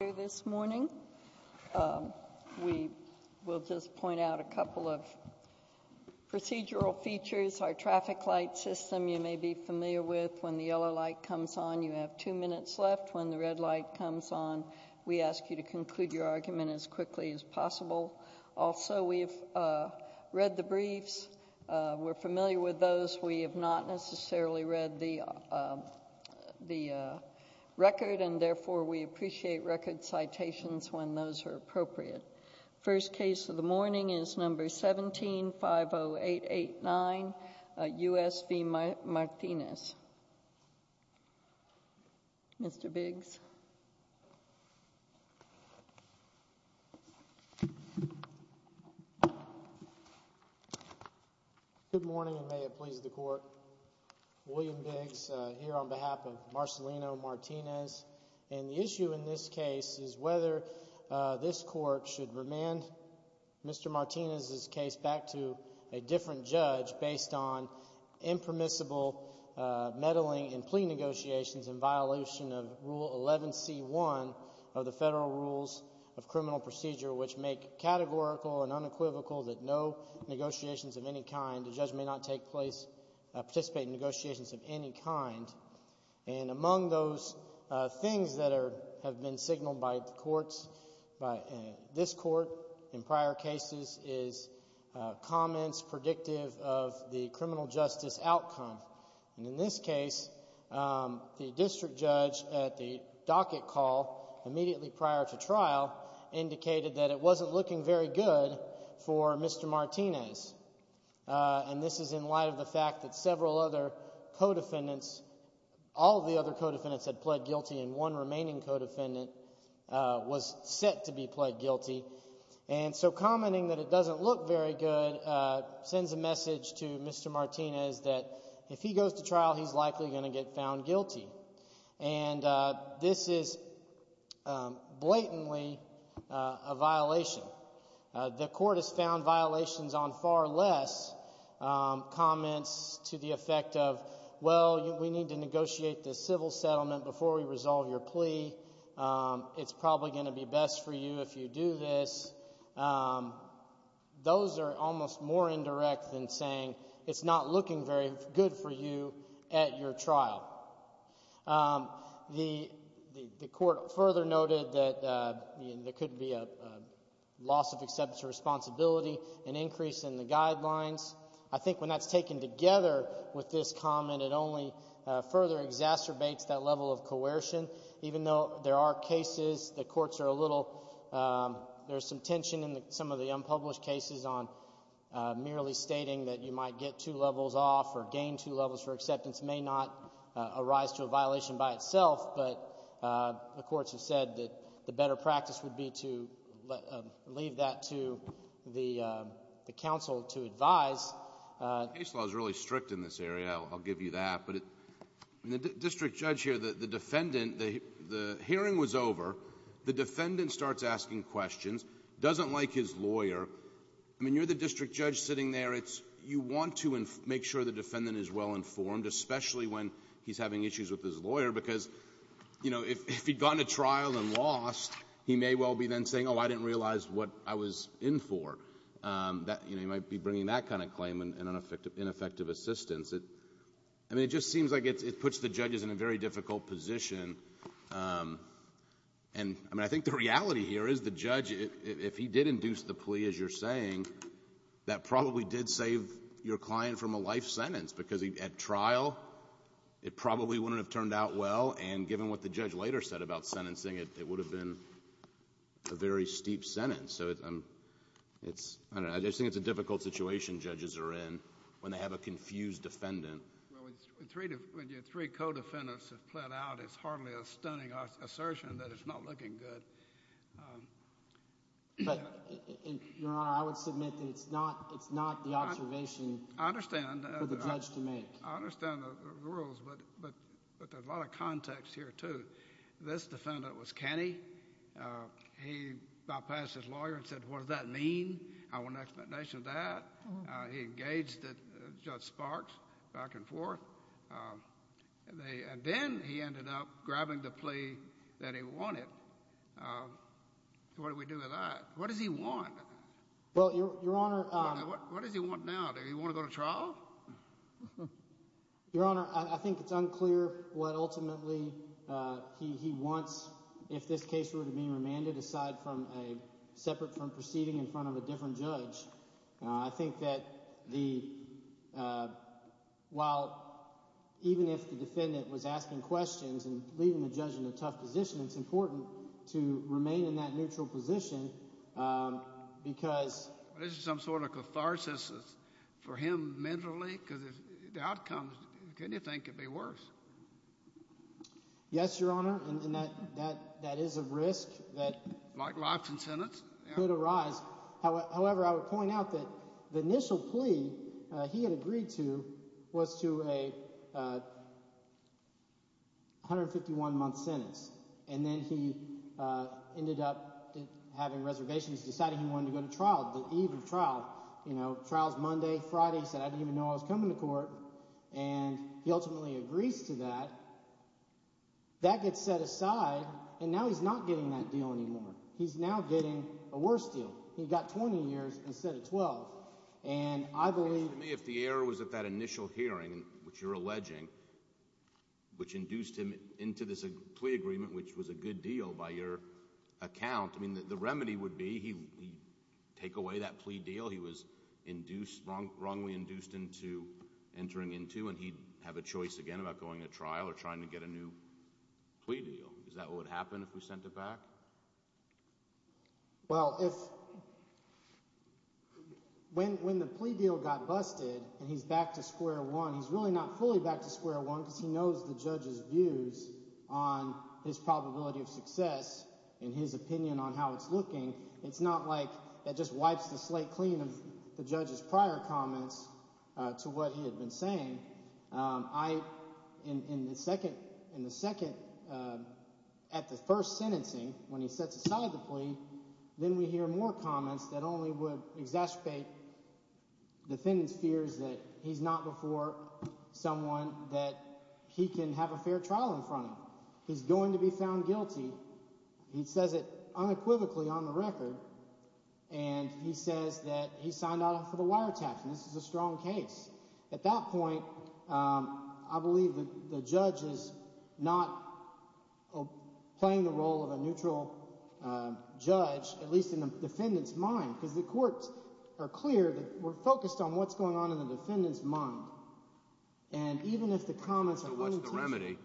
here this morning. We will just point out a couple of procedural features. Our traffic light system you may be familiar with. When the yellow light comes on you have two minutes left. When the red light comes on we ask you to conclude your argument as quickly as possible. Also we've read the briefs. We're familiar with those. We have not necessarily read the citations when those are appropriate. First case of the morning is number 17-50889, U.S. v. Martinez. Mr. Biggs. Good morning and may it please the court. William Biggs here on this case is whether this court should remand Mr. Martinez's case back to a different judge based on impermissible meddling in plea negotiations in violation of Rule 11c1 of the Federal Rules of Criminal Procedure which make categorical and unequivocal that no negotiations of any kind, the judge may not take place, participate in negotiations of any kind. And among those things that have been signaled by the courts, by this court in prior cases is comments predictive of the criminal justice outcome. And in this case the district judge at the docket call immediately prior to trial indicated that it wasn't looking very good for Mr. Martinez. And this is in light of the fact that several other co-defendants, all of the other co-defendants had pled guilty and one remaining co-defendant was set to be pled guilty. And so commenting that it doesn't look very good sends a message to Mr. Martinez that if he goes to trial he's likely going to get found guilty. And this is blatantly a violation. The court has found violations on far less comments to the effect of, well, we need to negotiate the civil settlement before we resolve your plea. It's probably going to be best for you if you do this. Those are almost more indirect than saying it's not looking very good for you at your trial. The court further noted that there could be a loss of acceptance or responsibility, an increase in the guidelines. I think when that's taken together with this comment it only further exacerbates that level of coercion. Even though there are cases the courts are a little, there's some tension in some of the unpublished cases on merely stating that you might get two levels off or gain two levels for acceptance may not arise to a violation by itself, but the courts have said that the better practice would be to leave that to the counsel to advise. The case law is really strict in this area, I'll give you that. But the district judge here, the defendant, the hearing was over, the defendant starts asking questions, doesn't like his lawyer. I mean, you're the district judge sitting there, you want to make sure the defendant is well informed, especially when he's having issues with his lawyer because, you know, if he'd gone to trial and lost, he may well be then saying, oh, I didn't realize what I was in for. You know, he might be bringing that kind of claim and ineffective assistance. I mean, it just seems like it puts the judges in a very difficult position. And I mean, I think the reality here is the judge, if he did induce the plea as you're saying, that probably did save your client from a life sentence because at trial it probably wouldn't have turned out well and given what the judge later said about sentencing, it would have been a life sentence. So it's, I don't know, I just think it's a difficult situation judges are in when they have a confused defendant. Well, when your three co-defendants have pled out, it's hardly a stunning assertion that it's not looking good. But, Your Honor, I would submit that it's not the observation for the judge to make. I understand the rules, but there's a lot of context here, too. This defendant was canny. He bypassed his lawyer and said, what does that mean? I want an explanation of that. He engaged Judge Sparks back and forth. And then he ended up grabbing the plea that he wanted. So what do we do with that? What does he want? Well, Your Honor. What does he want now? Does he want to go to trial? Your Honor, I think it's unclear what ultimately he wants if this case were to be remanded aside from a separate from proceeding in front of a different judge. I think that the, while even if the defendant was asking questions and leaving the judge in a tough position, it's important to remain in that neutral position because this is some sort of catharsis for him mentally because the outcomes, can you think it could be worse? Yes, Your Honor, and that is a risk that could arise. However, I would point out that the initial plea he had agreed to was to a 151 month sentence. And then he ended up having reservations, deciding he wanted to go to trial, the eve of trial. You know, trial's Monday, Friday. He said, I didn't even know I was coming to court. And he ultimately agrees to that. That gets set aside, and now he's not getting that deal anymore. He's now getting a worse deal. He got 20 years instead of 12. And I believe, to me, if the error was at that initial hearing, which you're alleging, which induced him into this plea agreement, which was a good deal by your account, I mean, the remedy would be he'd take away that plea deal he was wrongly induced into entering into, and he'd have a choice again about going to trial or trying to get a new plea deal. Is that what would happen if we sent it back? Well, when the plea deal got busted, and he's back to square one, he's really not fully back to square one because he knows the judge's success in his opinion on how it's looking. It's not like that just wipes the slate clean of the judge's prior comments to what he had been saying. In the second, at the first sentencing, when he sets aside the plea, then we hear more comments that only would exacerbate defendant's fears that he's not before someone that he can have a fair trial in front of. He's going to be found guilty. He says it unequivocally on the record, and he says that he signed out for the wiretaps, and this is a strong case. At that point, I believe the judge is not playing the role of a neutral judge, at least in the defendant's mind, because the courts are clear that we're focused on what's going on in the defendant's mind, and even if the comments are wrong to the judge.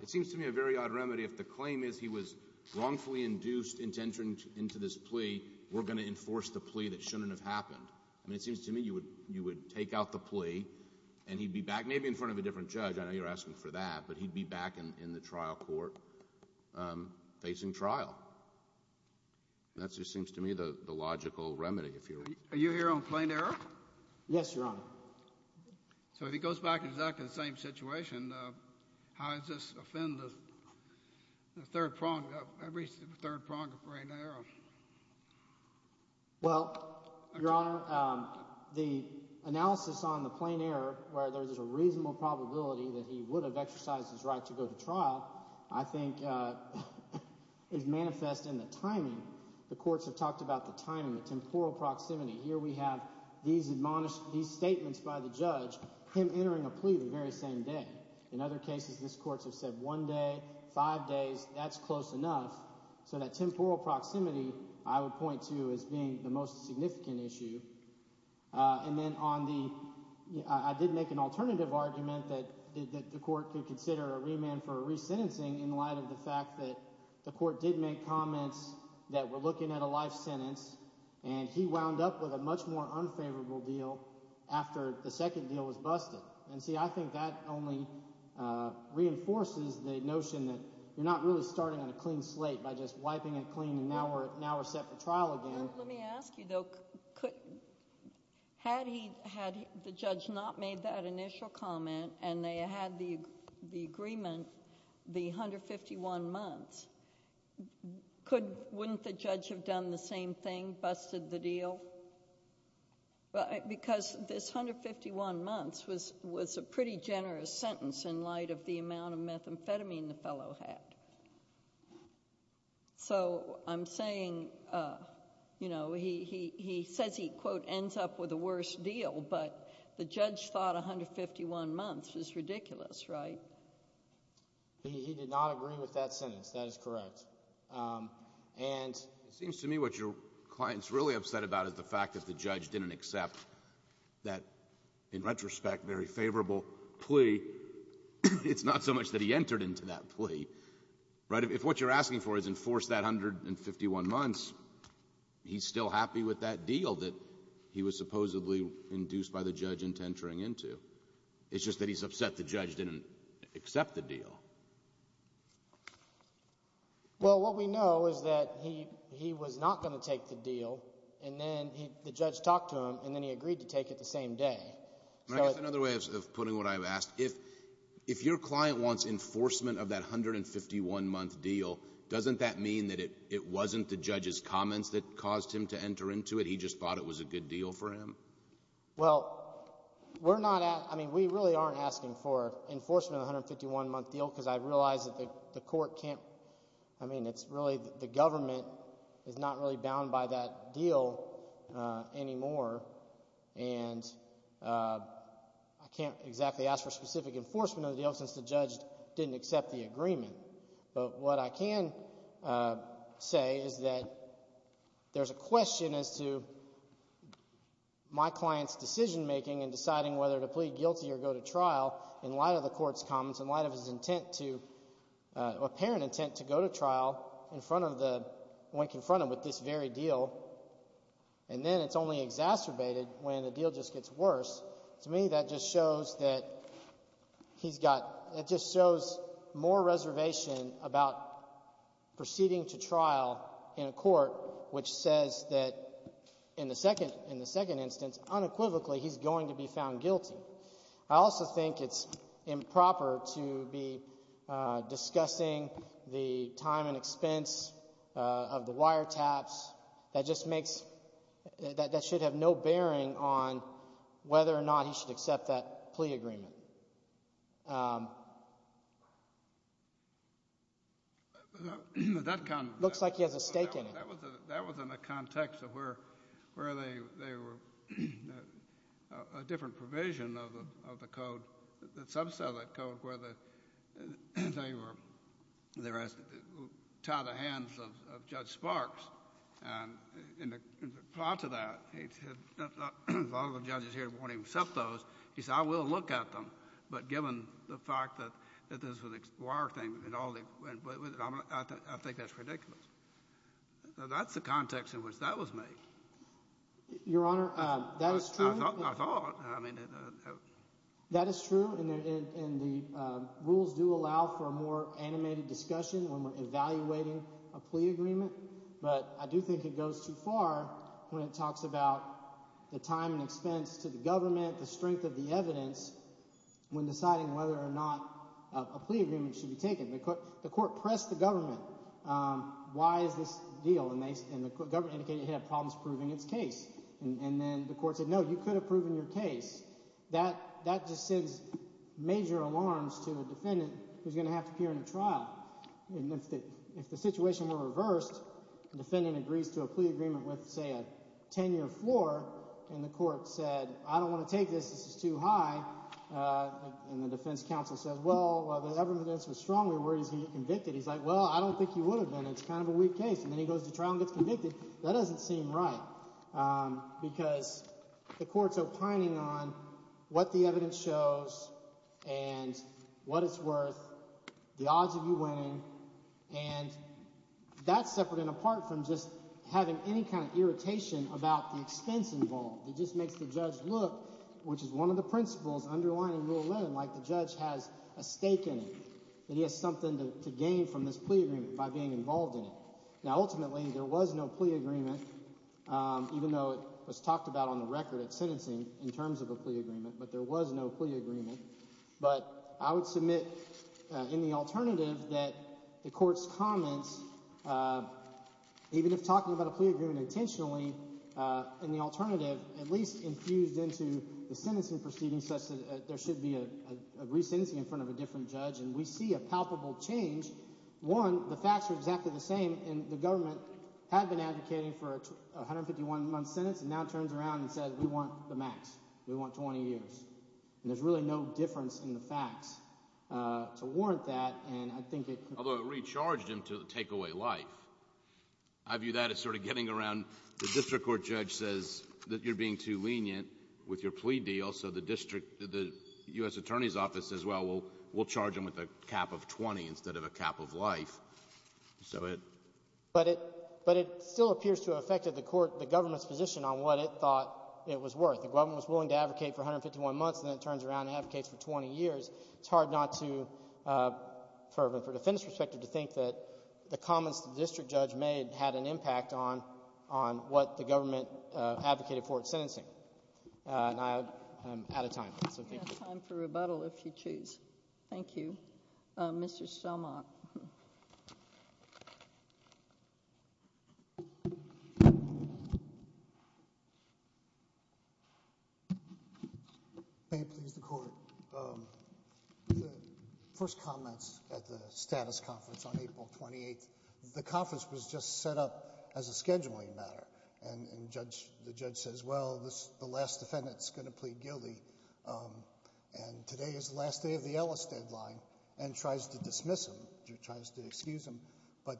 It seems to me a very odd remedy. If the claim is he was wrongfully induced into entering into this plea, we're going to enforce the plea that shouldn't have happened. I mean, it seems to me you would take out the plea, and he'd be back maybe in front of a different judge. I know you're asking for that, but he'd be back in the trial court facing trial. That just seems to me the logical remedy, if you will. Are you here on plain error? Yes, Your Honor. So if he goes back to exactly the same situation, how does this offend every third prong of plain error? Well, Your Honor, the analysis on the plain error, where there's a reasonable probability that he would have exercised his right to go to trial, I think is manifest in the timing. The courts have talked about the timing, the temporal proximity. Here we have these statements by the judge, him entering a plea the very same day. In other cases, these courts have said one day, five days, that's close enough. So that temporal proximity I would point to as being the most significant issue. And then on the, I did make an alternative argument that the court could consider a remand for resentencing in light of the fact that the court did make comments that were looking at a life sentence, and he wound up with a much more unfavorable deal after the second deal was busted. And see, I think that only reinforces the notion that you're not really starting on a clean slate by just wiping it clean and now we're set for trial again. Let me ask you though, had the judge not made that initial comment, and they had the agreement, the 151 months, wouldn't the judge have done the same thing, busted the deal? Because this 151 months was a pretty generous sentence in light of the amount of methamphetamine the fellow had. So, I'm saying, you know, he says he, quote, ends up with a worse deal, but the judge thought 151 months was ridiculous, right? He did not agree with that sentence. That is correct. And it seems to me what your client's really upset about is the fact that the judge didn't accept that, in retrospect, very favorable plea. It's not so much that he entered into that plea, right? If what you're asking for is enforce that 151 months, he's still happy with that deal that he was given, but he didn't accept the deal. Well, what we know is that he was not going to take the deal, and then the judge talked to him, and then he agreed to take it the same day. And I guess another way of putting what I've asked, if your client wants enforcement of that 151 month deal, doesn't that mean that it wasn't the judge's comments that caused him to enter into it? He just thought it was a good deal for him? Well, we're not, I mean, we really aren't asking for enforcement of the 151 month deal, because I realize that the court can't, I mean, it's really the government is not really bound by that deal anymore, and I can't exactly ask for specific enforcement of the deal, since the judge didn't accept the agreement. But what I can say is that there's a question as to my client's decision making in deciding whether to plead guilty or go to trial, in light of the court's comments, in light of his intent to, apparent intent to go to trial, in front of the, when confronted with this very deal, and then it's only exacerbated when the deal just gets worse. To me, that just shows that he's got, that just shows more reservation about proceeding to trial in a court which says that, in the second, in the second instance, unequivocally, he's going to be found guilty. I also think it's improper to be discussing the time and expense of the wiretaps. That just makes, that should have no bearing on whether or not he should accept that plea agreement. That kind of thing. Looks like he has to go to trial. I don't think there's a stake in it. That was in the context of where they were, a different provision of the code, the subset of the code, where they were, they were asked to tie the hands of Judge Sparks. And in reply to that, he said, if all of the judges here won't even accept those, he said, I will look at them. But given the fact that this was a wire thing, and all the, I think that's ridiculous. That's the context in which that was made. Your Honor, that is true. I thought, I thought, I mean. That is true, and the rules do allow for a more animated discussion when we're evaluating a plea agreement, but I do think it goes too far when it talks about the time and expense to the government, the strength of the evidence, when deciding whether or not a plea agreement should be taken. The court pressed the government, why is this a deal, and the government indicated it had problems proving its case. And then the court said, no, you could have proven your case. That just sends major alarms to a defendant who's going to have to appear in a trial. And if the situation were reversed, the defendant agrees to a plea agreement with, say, a ten-year floor, and the court said, I don't want to take this, this is too high, and the defense counsel says, well, the evidence was strong, where is he convicted? He's like, well, I don't think he would have been. It's kind of a weak case. And then he goes to trial and gets convicted. That doesn't seem right, because the court's opining on what the evidence shows and what it's worth, the odds of you winning, and that's separate and apart from just having any kind of irritation about the expense involved. It just makes the judge look, which is one of the principles underlying Rule 11, like the judge has a stake in it, that he has something to gain from this plea agreement by being involved in it. Now ultimately, there was no plea agreement, even though it was talked about on the record at sentencing in terms of a plea agreement, but there was no plea agreement. But I would submit, in the alternative, that the court's comments, even if talking about a plea agreement intentionally, in the alternative, at least infused into the sentencing proceedings such that there should be a re-sentencing in front of a different judge, and we see a palpable change. One, the facts are exactly the same, and the government had been advocating for a 151-month sentence, and now it turns around and says, we want the max. We want 20 years. And there's really no difference in the facts to warrant that, and I think it could be... Although it recharged him to take away life. I view that as sort of getting around, the district court judge says that you're being too lenient with your plea deal, so the district, the U.S. Attorney's Office says, well, we'll charge him with a cap of 20 instead of a cap of life. So it... But it still appears to have affected the court, the government's position on what it was willing to advocate for 151 months, and then it turns around and advocates for 20 years. It's hard not to, from a defense perspective, to think that the comments the district judge made had an impact on what the government advocated for in sentencing. And I'm out of time. We have time for rebuttal if you choose. Thank you. Mr. Stelmach. May it please the Court. First comments at the status conference on April 28th. The conference was just set up as a scheduling matter, and the judge says, well, the last defendant's going to plead guilty, and today is the last day of the Ellis deadline, and tries to dismiss him, tries to excuse him, but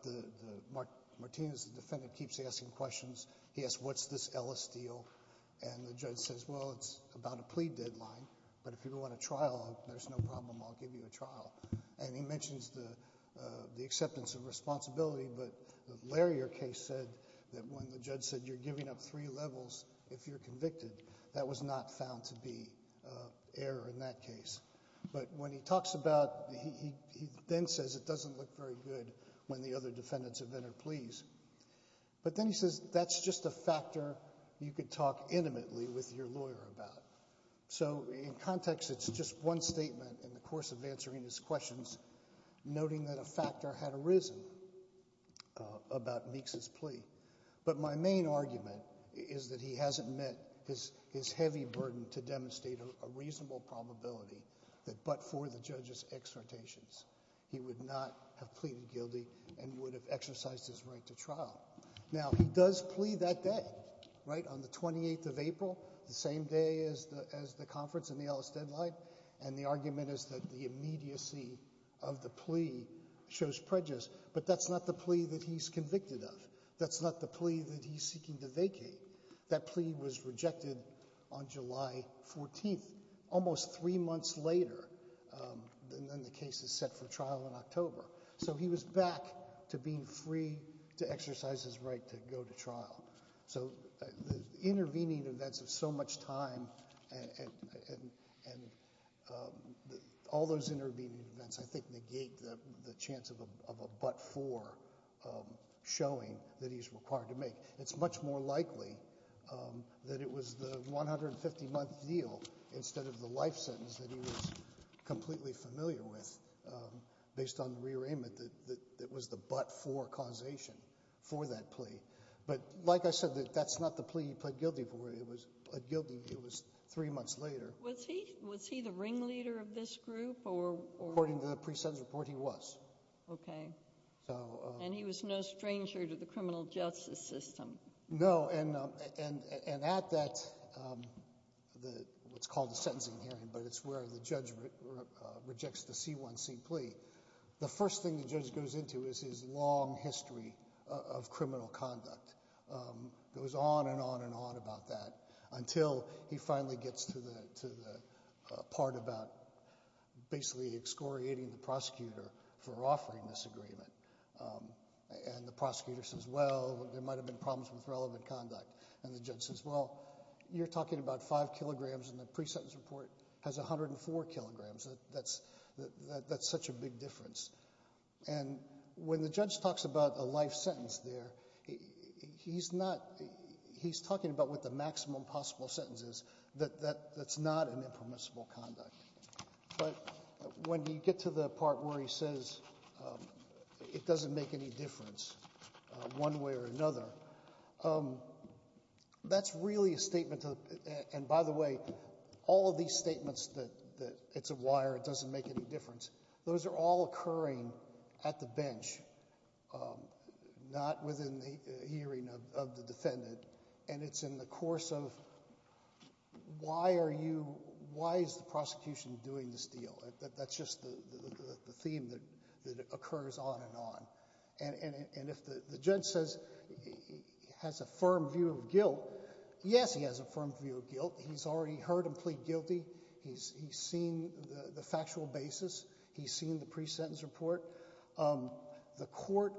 Martinez, the defendant, keeps asking questions. He asks, what's this Ellis deal? And the judge says, well, it's about a plea deadline, but if you want a trial, there's no problem. I'll give you a trial. And he mentions the acceptance of responsibility, but the Larrier case said that when the judge said, you're giving up three levels if you're convicted, that was not found to be error in that case. But when he talks about, he then says it doesn't look very good when the other defendants have entered pleas. But then he says, that's just a factor you could talk intimately with your lawyer about. So in context, it's just one statement in the course of answering his questions, noting that a factor had arisen about Meeks' plea. But my main argument is that he hasn't met his heavy burden to demonstrate a reasonable probability that but for the judge's exhortations, he would not have pleaded guilty and would have exercised his right to trial. Now, he does plea that day, right, on the 28th of April, the same day as the conference and the Ellis deadline, and the argument is that the immediacy of the plea shows prejudice, but that's not the plea that he's convicted of. That's not the plea that he's seeking to vacate. That plea was rejected on July 14th, almost three months later, and then the case is set for trial in October. So he was back to being free to exercise his right to go to trial. So the intervening events of so much time and all those intervening events, I think, negate the chance of a but for showing that he's required to make. It's much more likely that it was the 150-month deal instead of the life sentence that he was completely familiar with based on the rearrangement that was the but for causation for that plea. But like I said, that's not the plea he pleaded guilty for. It was three months later. Was he the ringleader of this group, or? According to the pre-sentence report, he was. Okay. And he was no stranger to the criminal justice system. No, and at that, what's called a sentencing hearing, but it's where the judge rejects the C1C plea, the first thing the judge goes into is his long history of criminal conduct. It was on and on and on about that until he finally gets to the part about basically excoriating the prosecutor for offering this agreement. And the prosecutor says, well, there might have been problems with relevant conduct. And the judge says, well, you're talking about five kilograms and the pre-sentence report has 104 kilograms. That's such a big difference. And when the judge talks about a life sentence there, he's not, he's talking about what the maximum possible sentence is. That's not an impermissible conduct. But when you get to the part where he says it doesn't make any difference one way or another, that's really a statement to, and by the way, all of these statements that it's a wire, it doesn't make any difference, those are all occurring at the bench, not within the hearing of the defendant. And it's in the course of why are you, why is the prosecution doing this deal? That's just the theme that occurs on and on. And if the judge says he has a firm view of guilt, yes, he has a firm view of guilt. He's already heard him plead guilty. He's seen the factual basis. He's seen the pre-sentence report. The court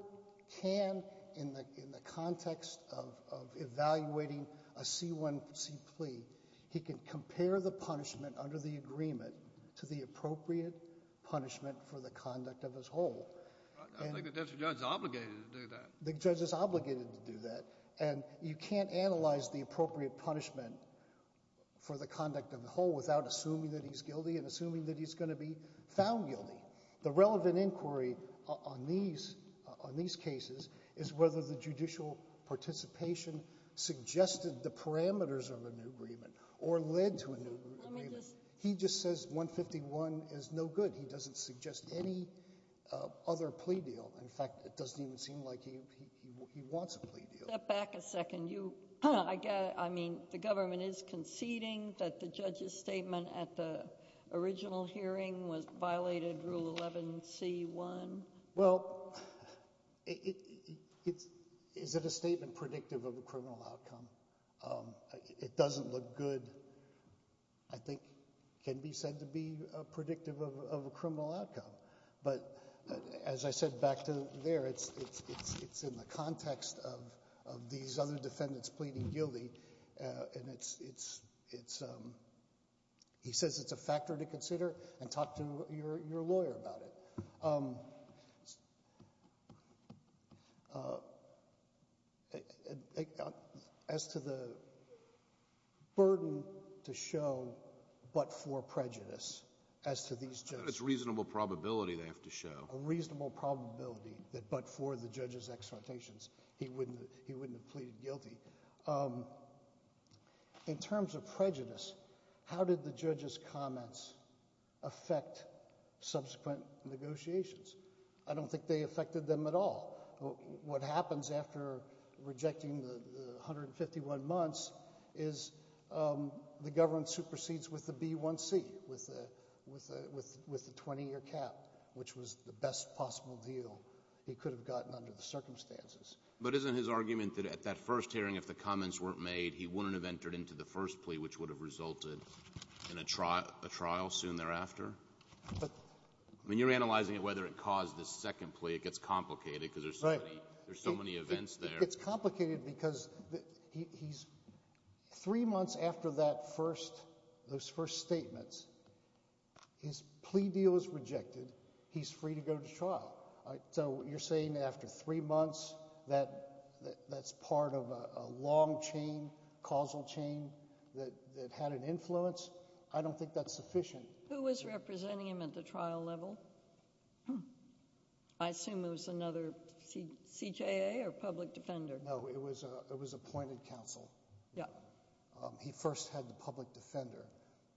can in the context of evaluating a C1C plea, he can compare the punishment under the agreement to the appropriate punishment for the conduct of his whole. I think the judge is obligated to do that. The judge is obligated to do that. And you can't analyze the appropriate punishment for the conduct of the whole without assuming that he's guilty and assuming that he's going to be found guilty. The relevant inquiry on these cases is whether the judicial participation suggested the parameters of an agreement or led to an agreement. He just says 151 is no good. He doesn't suggest any other plea deal. In fact, it doesn't even seem like he wants a plea deal. Step back a second. I mean, the government is conceding that the judge's statement at the original hearing violated Rule 11C1. Well, is it a statement predictive of a criminal outcome? It doesn't look good. I think it can be said to be predictive of a criminal outcome. But as I said back there, it's in the context of these other defendants pleading guilty. And he says it's a factor to consider and talk to your lawyer about it. As to the burden to show but for prejudice, as to these judges. It's reasonable probability they have to show. A reasonable probability that but for the judge's exhortations, he wouldn't have pleaded guilty. In terms of prejudice, how did the judge's comments affect subsequent negotiations? I don't think they affected them at all. What happens after rejecting the 151 months is the government supersedes with the B1C, with the 20-year cap, which was the best possible deal he could have gotten under the circumstances. But isn't his argument that at that first hearing, if the comments weren't made, he wouldn't have entered into the first plea, which would have resulted in a trial soon thereafter? But — I mean, you're analyzing it, whether it caused the second plea. It gets complicated, because there's so many — Right. There's so many events there. It gets complicated, because he's — three months after that first — those first statements, his plea deal is rejected. He's free to go to trial. So you're saying after three months, that's part of a long chain, causal chain, that had an influence? I don't think that's sufficient. Who was representing him at the trial level? I assume it was another CJA or public defender. No, it was appointed counsel. Yeah. He first had the public defender,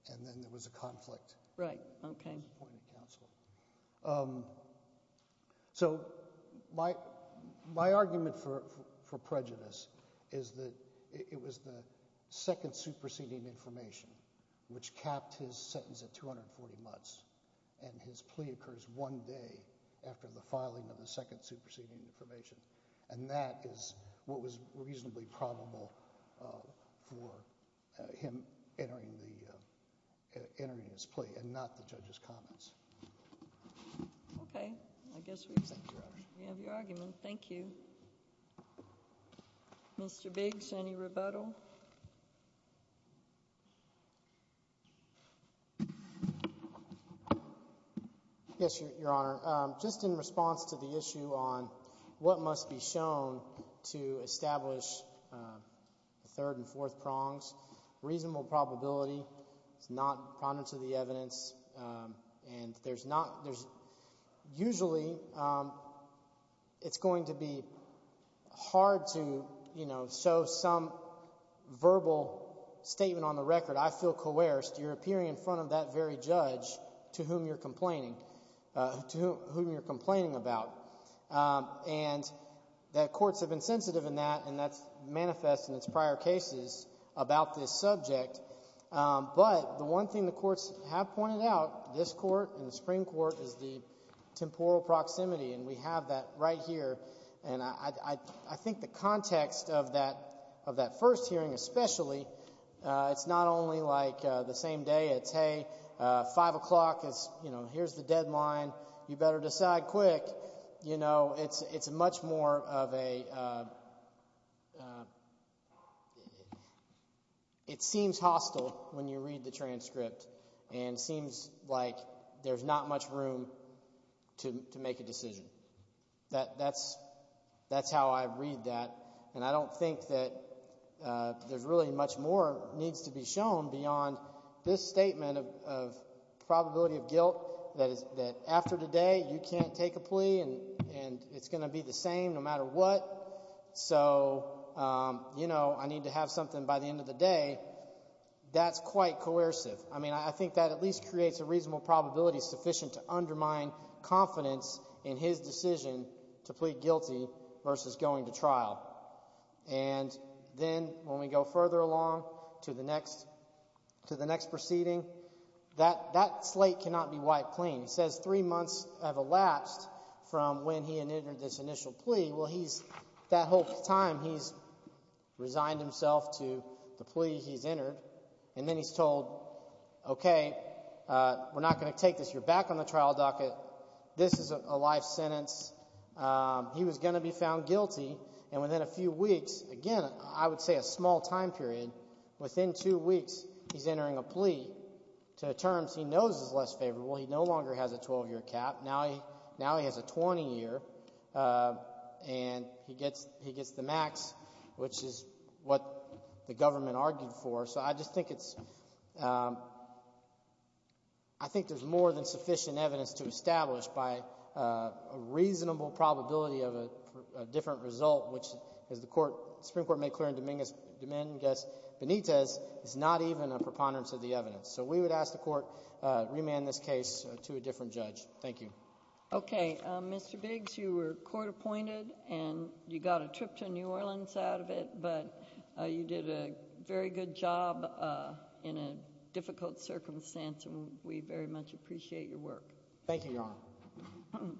and then there was a conflict. Right. OK. He was appointed counsel. So my argument for prejudice is that it was the second superseding information, which capped his sentence at 240 months, and his plea occurs one day after the filing of the second superseding information. And that is what was reasonably probable for him entering the — entering his plea, and not the judge's comments. OK. I guess we — Thank you, Your Honor. We have your argument. Thank you. Mr. Biggs, any rebuttal? Yes, Your Honor. Just in response to the issue on what must be shown to establish the third and fourth prongs, reasonable probability is not prominent to the evidence, and there's not — there's — usually it's going to be hard to, you know, show some verbal statement on the record, I feel coerced, you're appearing in front of that very judge to whom you're complaining — to whom you're complaining about. And that courts have been sensitive in that, and that's manifest in its prior cases about this subject. But the one thing the courts have pointed out, this Court and the Supreme Court, is the temporal proximity. And we have that right here. And I think the context of that — of that first hearing especially, it's not only like the same day, it's, hey, 5 o'clock is — you know, here's the deadline, you better decide quick. You know, it's much more of a — it seems hostile when you read the transcript, and it seems like there's not much room to make a decision. That's — that's how I read that. And I don't think that there's really much more needs to be shown beyond this statement of probability of guilt, that after today you can't take a plea, and it's going to be the same no matter what. So, you know, I need to have something by the end of the day. That's quite coercive. I mean, I think that at least creates a reasonable probability sufficient to undermine confidence in his decision to plead guilty versus going to trial. And then when we go further along to the next — to the next proceeding, that slate cannot be wiped clean. He says three months have elapsed from when he initiated this initial plea. Well, he's — that whole time, he's resigned himself to the plea he's entered, and then he's told, OK, we're not going to take this. You're back on the trial docket. This is a life sentence. He was going to be found guilty, and within a few weeks — again, I would say a small time period — within two weeks, he's entering a plea to terms he knows is less favorable. He no longer has a 12-year cap. Now he has a 20-year cap. And he gets the max, which is what the government argued for. So I just think it's — I think there's more than sufficient evidence to establish by a reasonable probability of a different result, which, as the Supreme Court made clear in Dominguez-Benitez, is not even a preponderance of the evidence. So we would ask the Court remand this case to a different judge. Thank you. OK. Mr. Biggs, you were court-appointed, and you got a trip to New Orleans out of it. But you did a very good job in a difficult circumstance, and we very much appreciate your work. Thank you, Your Honor.